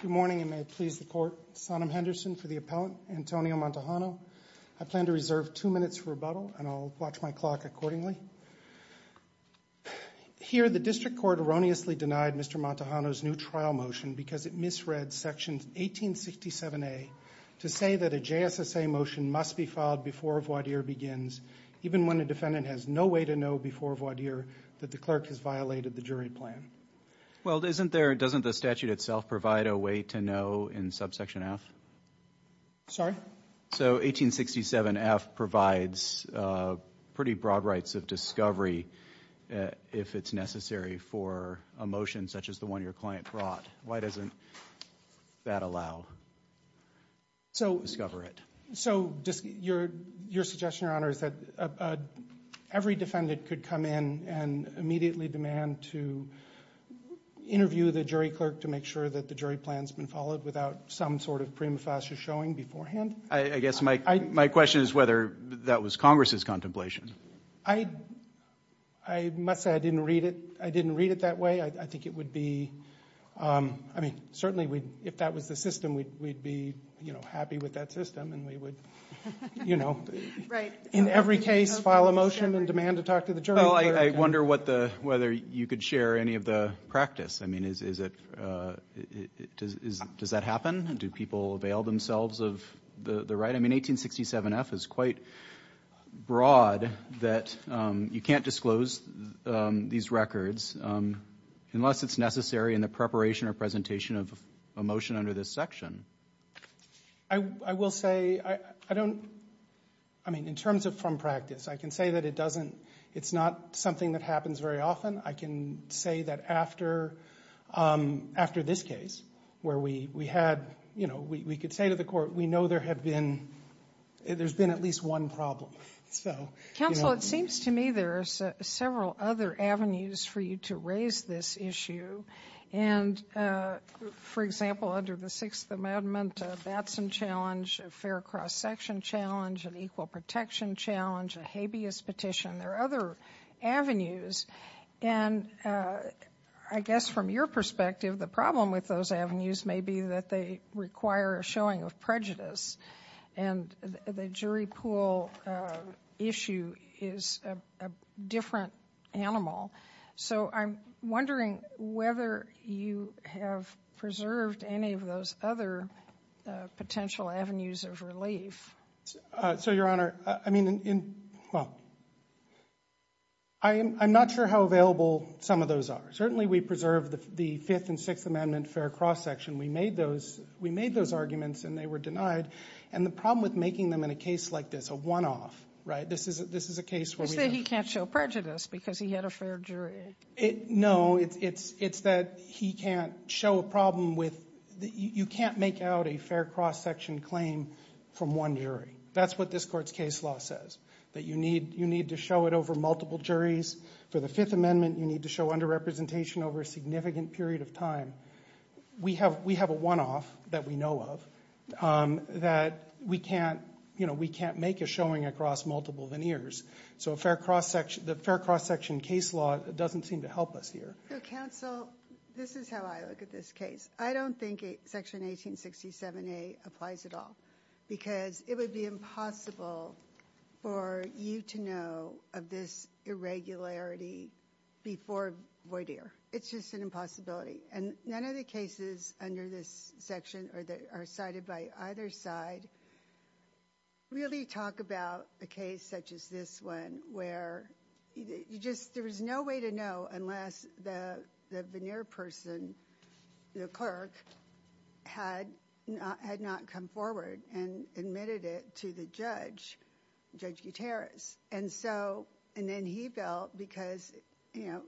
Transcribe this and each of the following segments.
Good morning and may it please the court, Sonim Henderson for the appellant, Antonio Montejano. I plan to reserve two minutes for rebuttal and I'll watch my clock accordingly. Here the district court erroneously denied Mr. Montejano's new trial motion because it misread section 1867A to say that a JSSA motion must be filed before a voir dire begins even when a defendant has no way to know before voir dire that the clerk has violated the jury plan. Well, isn't there, doesn't the statute itself provide a way to know in subsection F? Sorry? So 1867F provides pretty broad rights of discovery if it's necessary for a motion such as the one your client brought. Why doesn't that allow to discover it? So, your suggestion, Your Honor, is that every defendant could come in and immediately demand to interview the jury clerk to make sure that the jury plan's been followed without some sort of prima facie showing beforehand? I guess my question is whether that was Congress's contemplation. I must say I didn't read it. I didn't read it that way. I think it would be, I mean, certainly we'd, if that was the system, we'd be, you know, happy with that system and we would, you know. Right. In every case, file a motion and demand to talk to the jury clerk. Well, I wonder what the, whether you could share any of the practice. I mean, is it, does that happen? Do people avail themselves of the right? I mean, 1867F is quite broad that you can't disclose these records unless it's necessary in the preparation or presentation of a motion under this section. I will say, I don't, I mean, in terms of from practice, I can say that it doesn't, it's not something that happens very often. I can say that after, after this case, where we had, you know, we could say to the court, we know there have been, there's been at least one problem. Counsel, it seems to me there are several other avenues for you to raise this issue. And for example, under the Sixth Amendment, a Batson challenge, a Fair Cross Section challenge, an Equal Protection challenge, a habeas petition, there are other avenues. And I guess from your perspective, the problem with those avenues may be that they require a showing of prejudice and the jury pool issue is a different animal. So I'm wondering whether you have preserved any of those other potential avenues of relief. So, Your Honor, I mean, in, well, I'm not sure how available some of those are. Certainly, we preserved the Fifth and Sixth Amendment Fair Cross Section. We made those, we made those arguments and they were denied. And the problem with making them in a case like this, a one-off, right? This is, this is a case where we have... It's because he had a fair jury. No, it's, it's that he can't show a problem with, you can't make out a fair cross section claim from one jury. That's what this court's case law says. That you need, you need to show it over multiple juries. For the Fifth Amendment, you need to show under-representation over a significant period of time. We have, we have a one-off that we know of that we can't, you know, we can't make a showing across multiple veneers. So, a fair cross section, the fair cross section case law doesn't seem to help us here. So, counsel, this is how I look at this case. I don't think Section 1867A applies at all. Because it would be impossible for you to know of this irregularity before voir dire. It's just an impossibility. And none of the cases under this section, or that are cited by either side, really talk about a case such as this one where you just, there was no way to know unless the veneer person, the clerk, had not come forward and admitted it to the judge, Judge Gutierrez. And so, and then he felt, because, you know,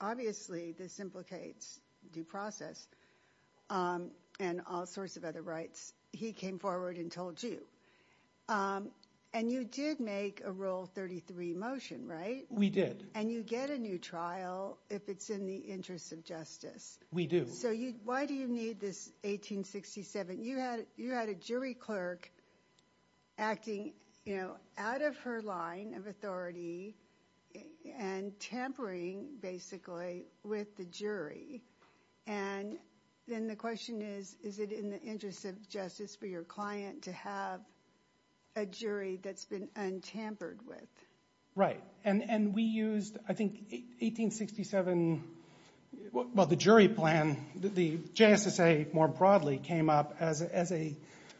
obviously, this implicates due process and all sorts of other rights. He came forward and told you, and you did make a Rule 33 motion, right? We did. And you get a new trial if it's in the interest of justice. We do. So, why do you need this 1867? You had a jury clerk acting, you know, out of her line of authority and tampering, basically, with the jury. And then the question is, is it in the interest of justice for your client to have a jury that's been untampered with? Right, and we used, I think, 1867, well, the jury plan. The JSSA, more broadly, came up as a,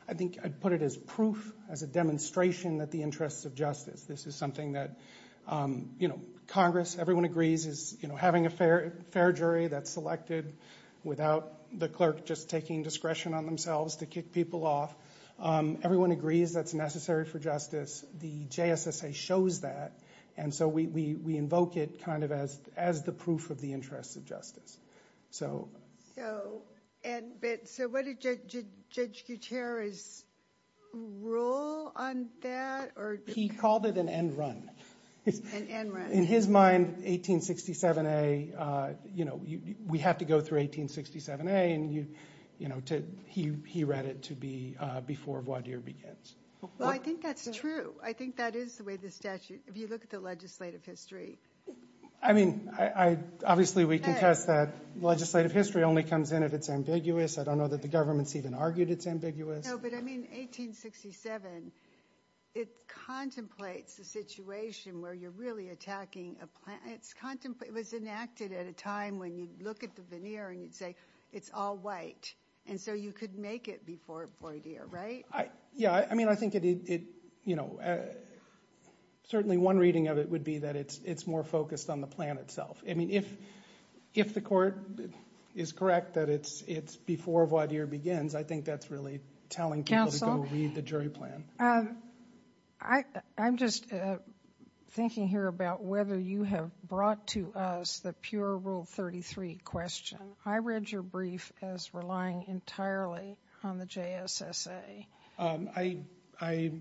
I think I'd put it as proof, as a demonstration that the interest of justice, this is something that, you know, Congress, everyone agrees is, you know, having a fair jury that's selected without the clerk just taking discretion on themselves to kick people off. Everyone agrees that's necessary for justice. The JSSA shows that. And so we invoke it kind of as the proof of the interest of justice. So. So, and, but, so what did Judge Gutierrez rule on that, or? He called it an end run. An end run. In his mind, 1867A, you know, we have to go through 1867A, and you, you know, to, he read it to be before voir dire begins. Well, I think that's true. I think that is the way the statute, if you look at the legislative history. I mean, I, I, obviously we contest that legislative history only comes in if it's ambiguous, I don't know that the government's even argued it's ambiguous. No, but I mean, 1867, it contemplates the situation where you're really attacking a plant, it's contemplate, it was enacted at a time when you'd look at the veneer and you'd say, it's all white, and so you could make it before voir dire, right? Yeah, I mean, I think it, it, you know, certainly one reading of it would be that it's, it's more focused on the plan itself. I mean, if, if the court is correct that it's, it's before voir dire begins, I think that's really telling people to go read the jury plan. Counsel, I, I'm just thinking here about whether you have brought to us the pure rule 33 question, I read your brief as relying entirely on the JSSA. I, I,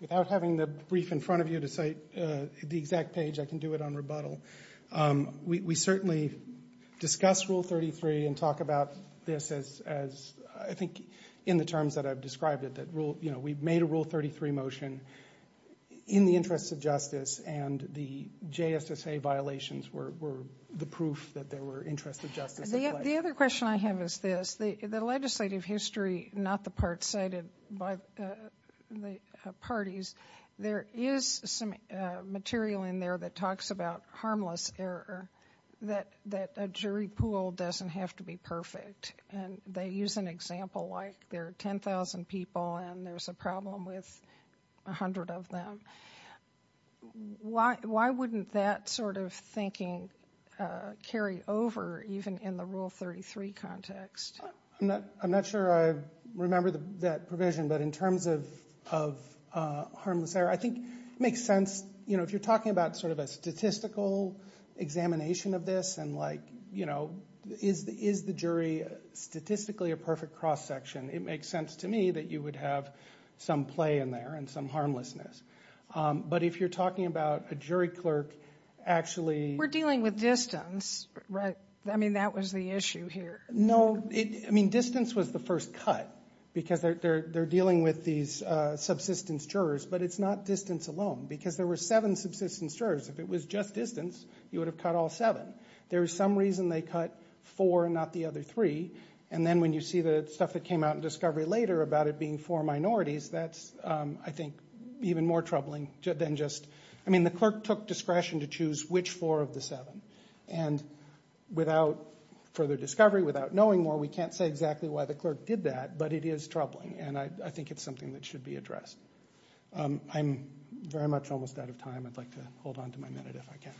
without having the brief in front of you to cite the exact page, I can do it on rebuttal. We, we certainly discuss rule 33 and talk about this as, as I think in the terms that I've described it, that rule, you know, we've made a rule 33 motion in the interests of justice and the JSSA violations were, were the proof that there were interests of justice at play. The other question I have is this, the, the legislative history, not the part cited by the parties, there is some material in there that talks about harmless error, that, that a jury pool doesn't have to be perfect and they use an example like there are 10,000 people and there's a problem with a hundred of them. Why, why wouldn't that sort of thinking carry over even in the rule 33 context? I'm not, I'm not sure I remember that provision, but in terms of, of harmless error, I think it makes sense, you know, if you're talking about sort of a statistical examination of this and like, you know, is, is the jury statistically a perfect cross section, it makes sense to me that you would have some play in there and some harmlessness. But if you're talking about a jury clerk actually... We're dealing with distance, right? I mean, that was the issue here. No, it, I mean, distance was the first cut because they're, they're, they're dealing with these subsistence jurors, but it's not distance alone because there were seven subsistence jurors. If it was just distance, you would have cut all seven. There was some reason they cut four and not the other three. And then when you see the stuff that came out in Discovery later about it being four minorities, that's, I think, even more troubling than just, I mean, the clerk took discretion to choose which four of the seven. And without further discovery, without knowing more, we can't say exactly why the clerk did that, but it is troubling. And I think it's something that should be addressed. I'm very much almost out of time. I'd like to hold on to my minute if I can.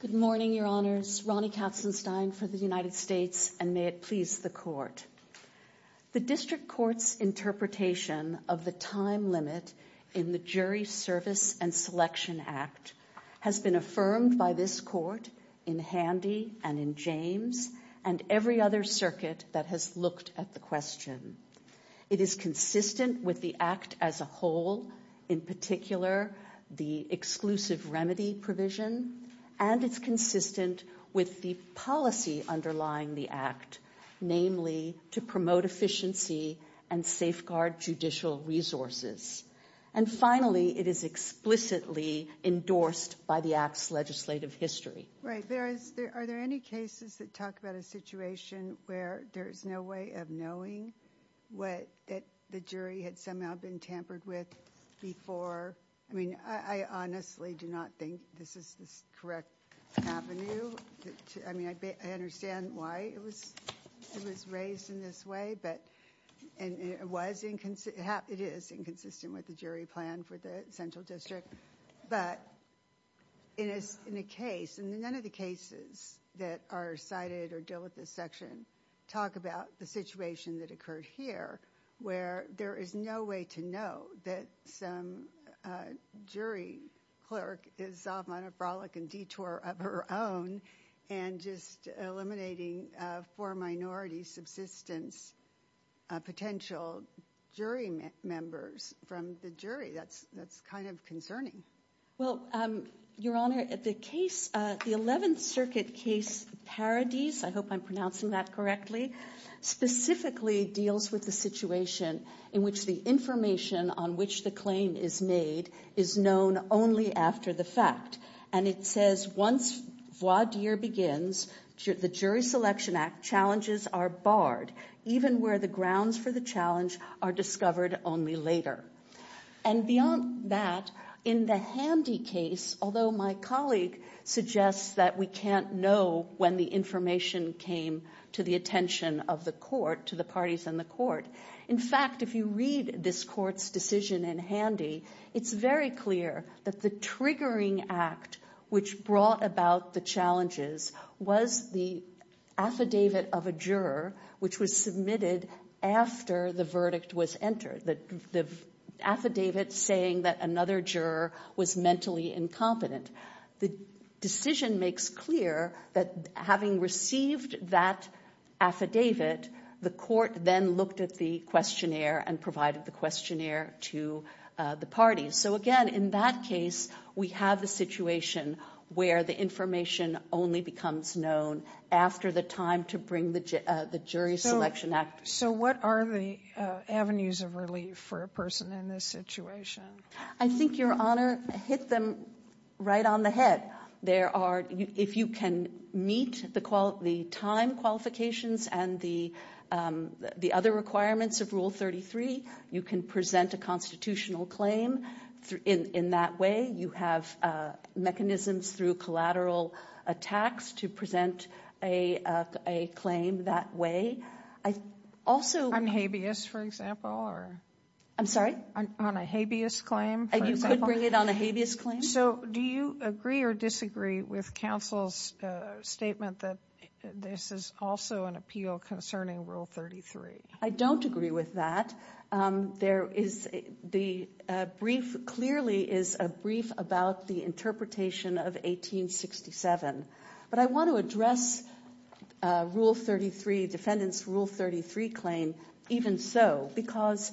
Good morning, Your Honors. Ronnie Katzenstein for the United States, and may it please the court. The district court's interpretation of the time limit in the Jury Service and Selection Act has been affirmed by this court in Handy and in James and every other circuit that has looked at the question. It is consistent with the act as a whole, in particular, the exclusive remedy provision, and it's consistent with the policy underlying the act, namely to promote efficiency and safeguard judicial resources. And finally, it is explicitly endorsed by the act's legislative history. Right. There is, are there any cases that talk about a situation where there is no way of knowing what the jury had somehow been tampered with before? I mean, I honestly do not think this is the correct avenue. I mean, I understand why it was it was raised in this way, but it was inconsistent, it is inconsistent with the jury plan for the central district. But in a case, and in none of the cases that are cited or deal with this section, talk about the situation that occurred here, where there is no way to know that some jury clerk is off on a frolic and detour of her own and just eliminating four minority subsistence potential jury members from the jury. That's, that's kind of concerning. Well, Your Honor, the case, the 11th Circuit case, Paradis, I hope I'm pronouncing that correctly, specifically deals with the situation in which the information on which the claim is made is known only after the fact. And it says once voir dire begins, the Jury Selection Act challenges are barred, even where the grounds for the challenge are discovered only later. And beyond that, in the Handy case, although my colleague suggests that we can't know when the information came to the attention of the court, to the parties in the court. In fact, if you read this court's decision in Handy, it's very clear that the triggering act, which brought about the challenges, was the affidavit of a juror, which was submitted after the verdict was entered. The affidavit saying that another juror was mentally incompetent. The decision makes clear that having received that affidavit, the court then looked at the questionnaire and provided the questionnaire to the parties. So again, in that case, we have a situation where the information only becomes known after the time to bring the Jury Selection Act. So what are the avenues of relief for a person in this situation? I think, Your Honor, hit them right on the head. There are, if you can meet the time qualifications and the other requirements of Rule 33, you can present a constitutional claim in that way. You have mechanisms through collateral attacks to present a claim that way. I also. On habeas, for example, or? I'm sorry? On a habeas claim. And you could bring it on a habeas claim. So do you agree or disagree with counsel's statement that this is also an appeal concerning Rule 33? I don't agree with that. There is the brief clearly is a brief about the interpretation of 1867. But I want to address Rule 33, Defendant's Rule 33 claim even so. Because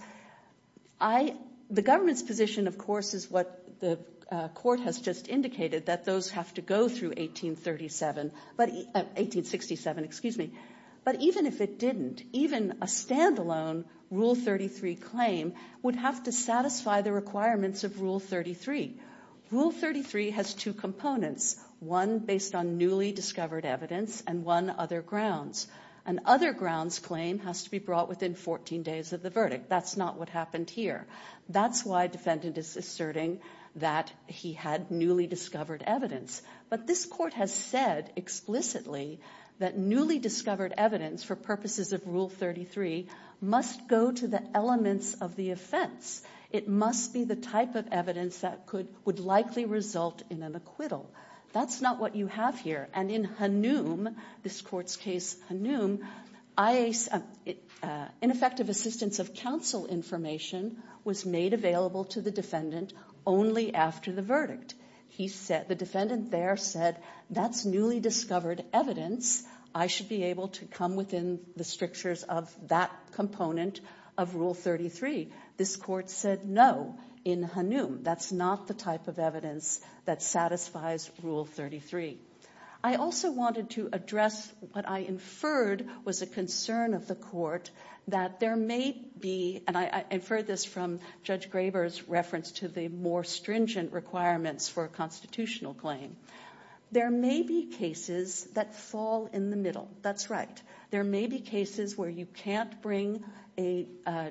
I, the government's position, of course, is what the court has just indicated, that those have to go through 1837, 1867, excuse me. But even if it didn't, even a standalone Rule 33 claim would have to satisfy the requirements of Rule 33. Rule 33 has two components, one based on newly discovered evidence and one other grounds. And other grounds claim has to be brought within 14 days of the verdict. That's not what happened here. That's why defendant is asserting that he had newly discovered evidence. But this court has said explicitly that newly discovered evidence for purposes of Rule 33 must go to the elements of the offense. It must be the type of evidence that could, would likely result in an acquittal. That's not what you have here. And in Hanum, this court's case Hanum, ineffective assistance of counsel information was made available to the defendant only after the verdict. He said, the defendant there said, that's newly discovered evidence, I should be able to come within the strictures of that component of Rule 33. This court said no in Hanum. That's not the type of evidence that satisfies Rule 33. I also wanted to address what I inferred was a concern of the court that there may be, and I inferred this from Judge Graber's reference to the more stringent requirements for a constitutional claim. There may be cases that fall in the middle. That's right. There may be cases where you can't bring a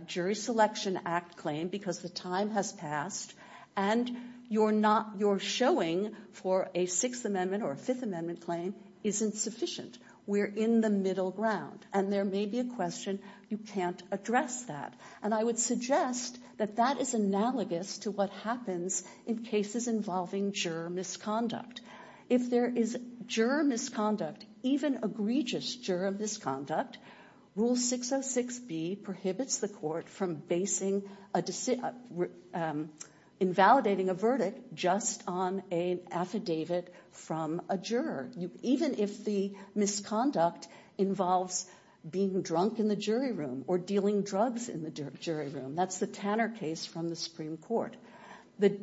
Jury Selection Act claim because the time has passed, and you're not, you're showing for a Sixth Amendment or a Fifth Amendment claim isn't sufficient. We're in the middle ground, and there may be a question you can't address that. And I would suggest that that is analogous to what happens in cases involving juror misconduct. If there is juror misconduct, even egregious juror misconduct, Rule 606B prohibits the court from basing, invalidating a verdict just on an affidavit from a juror, even if the misconduct involves being drunk in the jury room or dealing drugs in the jury room. That's the Tanner case from the Supreme Court. The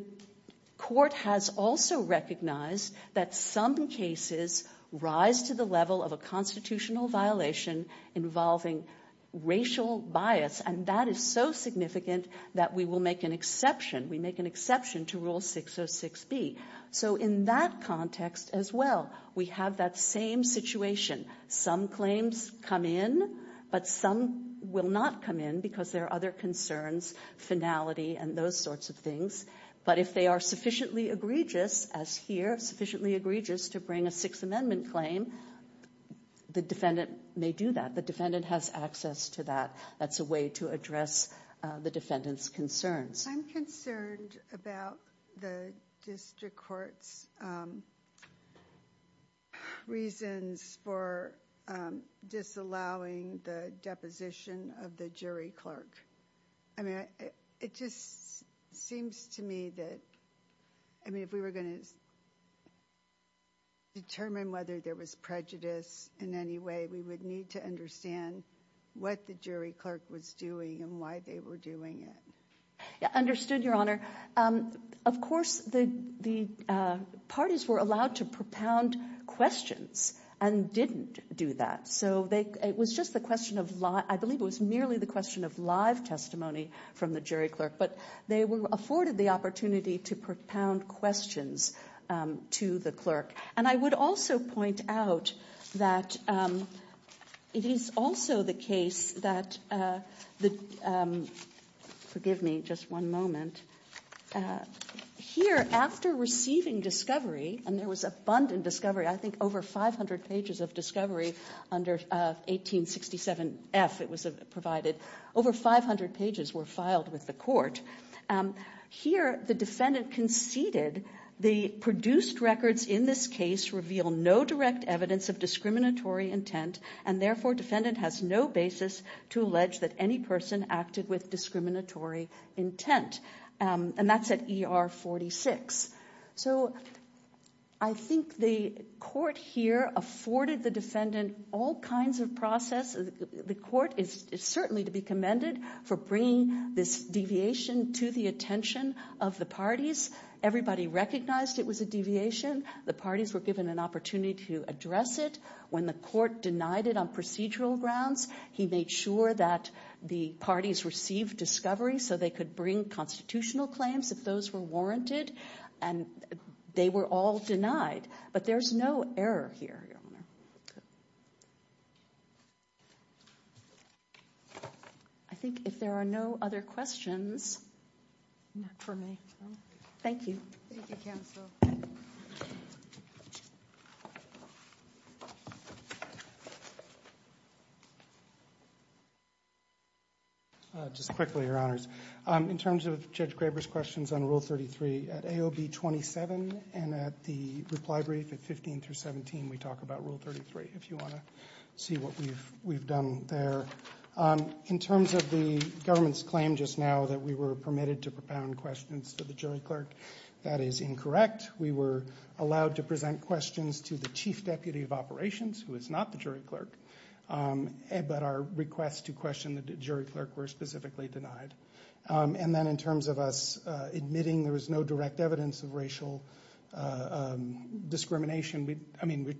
court has also recognized that some cases rise to the level of a constitutional violation involving racial bias, and that is so significant that we will make an exception. We make an exception to Rule 606B. So in that context as well, we have that same situation. Some claims come in, but some will not come in because there are other concerns, finality, and those sorts of things. But if they are sufficiently egregious, as here, sufficiently egregious to bring a Sixth Amendment claim, the defendant may do that. The defendant has access to that. That's a way to address the defendant's concerns. I'm concerned about the district court's reasons for disallowing the deposition of the jury clerk. I mean, it just seems to me that, I mean, if we were going to determine whether there was prejudice in any way, we would need to understand what the jury clerk was doing and why they were doing it. Yeah, understood, Your Honor. Of course, the parties were allowed to propound questions and didn't do that. So it was just the question of, I believe it was merely the question of live testimony from the jury clerk, but they were afforded the opportunity to propound questions to the clerk. And I would also point out that it is also the case that the, forgive me just one moment, here, after receiving discovery, and there was abundant discovery, I think over 500 pages of discovery under 1867F, it was provided, over 500 pages were filed with the court. Here, the defendant conceded the produced records in this case reveal no direct evidence of discriminatory intent, and therefore defendant has no basis to allege that any person acted with discriminatory intent. And that's at ER 46. So I think the court here afforded the defendant all kinds of process. The court is certainly to be commended for bringing this deviation to the attention of the parties. Everybody recognized it was a deviation. The parties were given an opportunity to address it. When the court denied it on procedural grounds, he made sure that the parties received discovery so they could bring constitutional claims if those were warranted. And they were all denied. But there's no error here, Your Honor. I think if there are no other questions, not for me. Thank you. Thank you, Counsel. Just quickly, Your Honors. In terms of Judge Graber's questions on Rule 33, at AOB 27 and at the reply brief at 15 through 17, we talk about Rule 33, if you want to see what we've done there. In terms of the government's claim just now that we were permitted to propound questions to the jury clerk, that is incorrect. We were allowed to present questions to the Chief Deputy of Operations, who is not the jury clerk, but our request to question the jury clerk were specifically denied. And then in terms of us admitting there was no direct evidence of racial discrimination, I mean,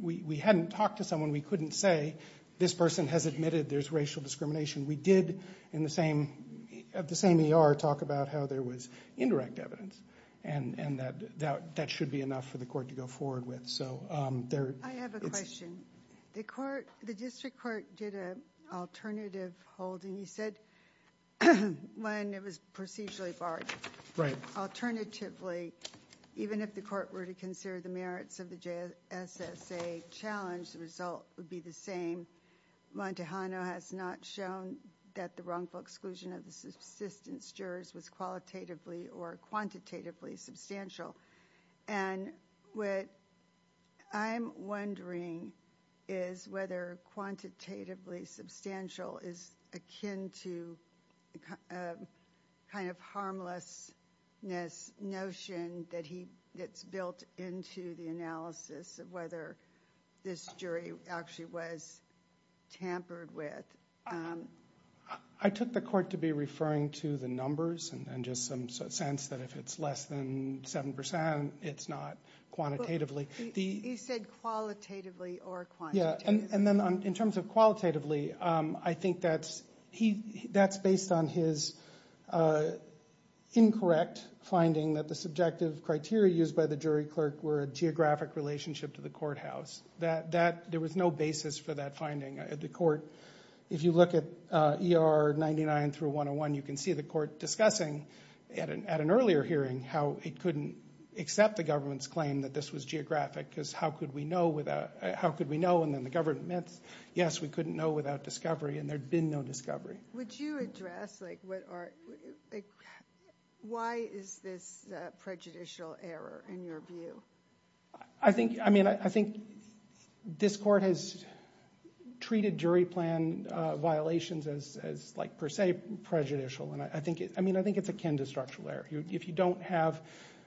we hadn't talked to someone we couldn't say, this person has admitted there's racial discrimination. We did, in the same ER, talk about how there was indirect evidence. And that should be enough for the court to go forward with. So there's... I have a question. The court, the district court did an alternative holding. You said when it was procedurally barred. Right. Alternatively, even if the court were to consider the merits of the JSSA challenge, the result would be the same. Montejano has not shown that the wrongful exclusion of the subsistence jurors was qualitatively or quantitatively substantial. And what I'm wondering is whether quantitatively substantial is akin to a kind of harmlessness notion that's built into the analysis of whether this jury actually was tampered with. I took the court to be referring to the numbers and just some sense that if it's less than 7 percent, it's not quantitatively. He said qualitatively or quantitatively. Yeah. And then in terms of qualitatively, I think that's based on his incorrect finding that the subjective criteria used by the jury clerk were a geographic relationship to the courthouse. That there was no basis for that finding at the court. If you look at ER 99 through 101, you can see the court discussing at an earlier hearing how it couldn't accept the government's claim that this was geographic because how could we know without... How could we know? And then the government, yes, we couldn't know without discovery. And there'd been no discovery. Would you address, like, what are... Why is this prejudicial error in your view? I think, I mean, I think this court has treated jury plan violations as, like, per se prejudicial. And I think it's akin to structural error. If you don't have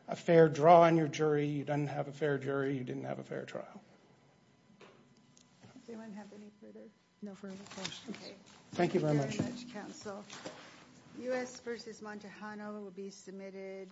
a fair draw on your jury, you didn't have a fair jury, you didn't have a fair trial. Does anyone have any further, no further questions? Thank you very much. Thank you very much, counsel. U.S. v. Montejano will be submitted.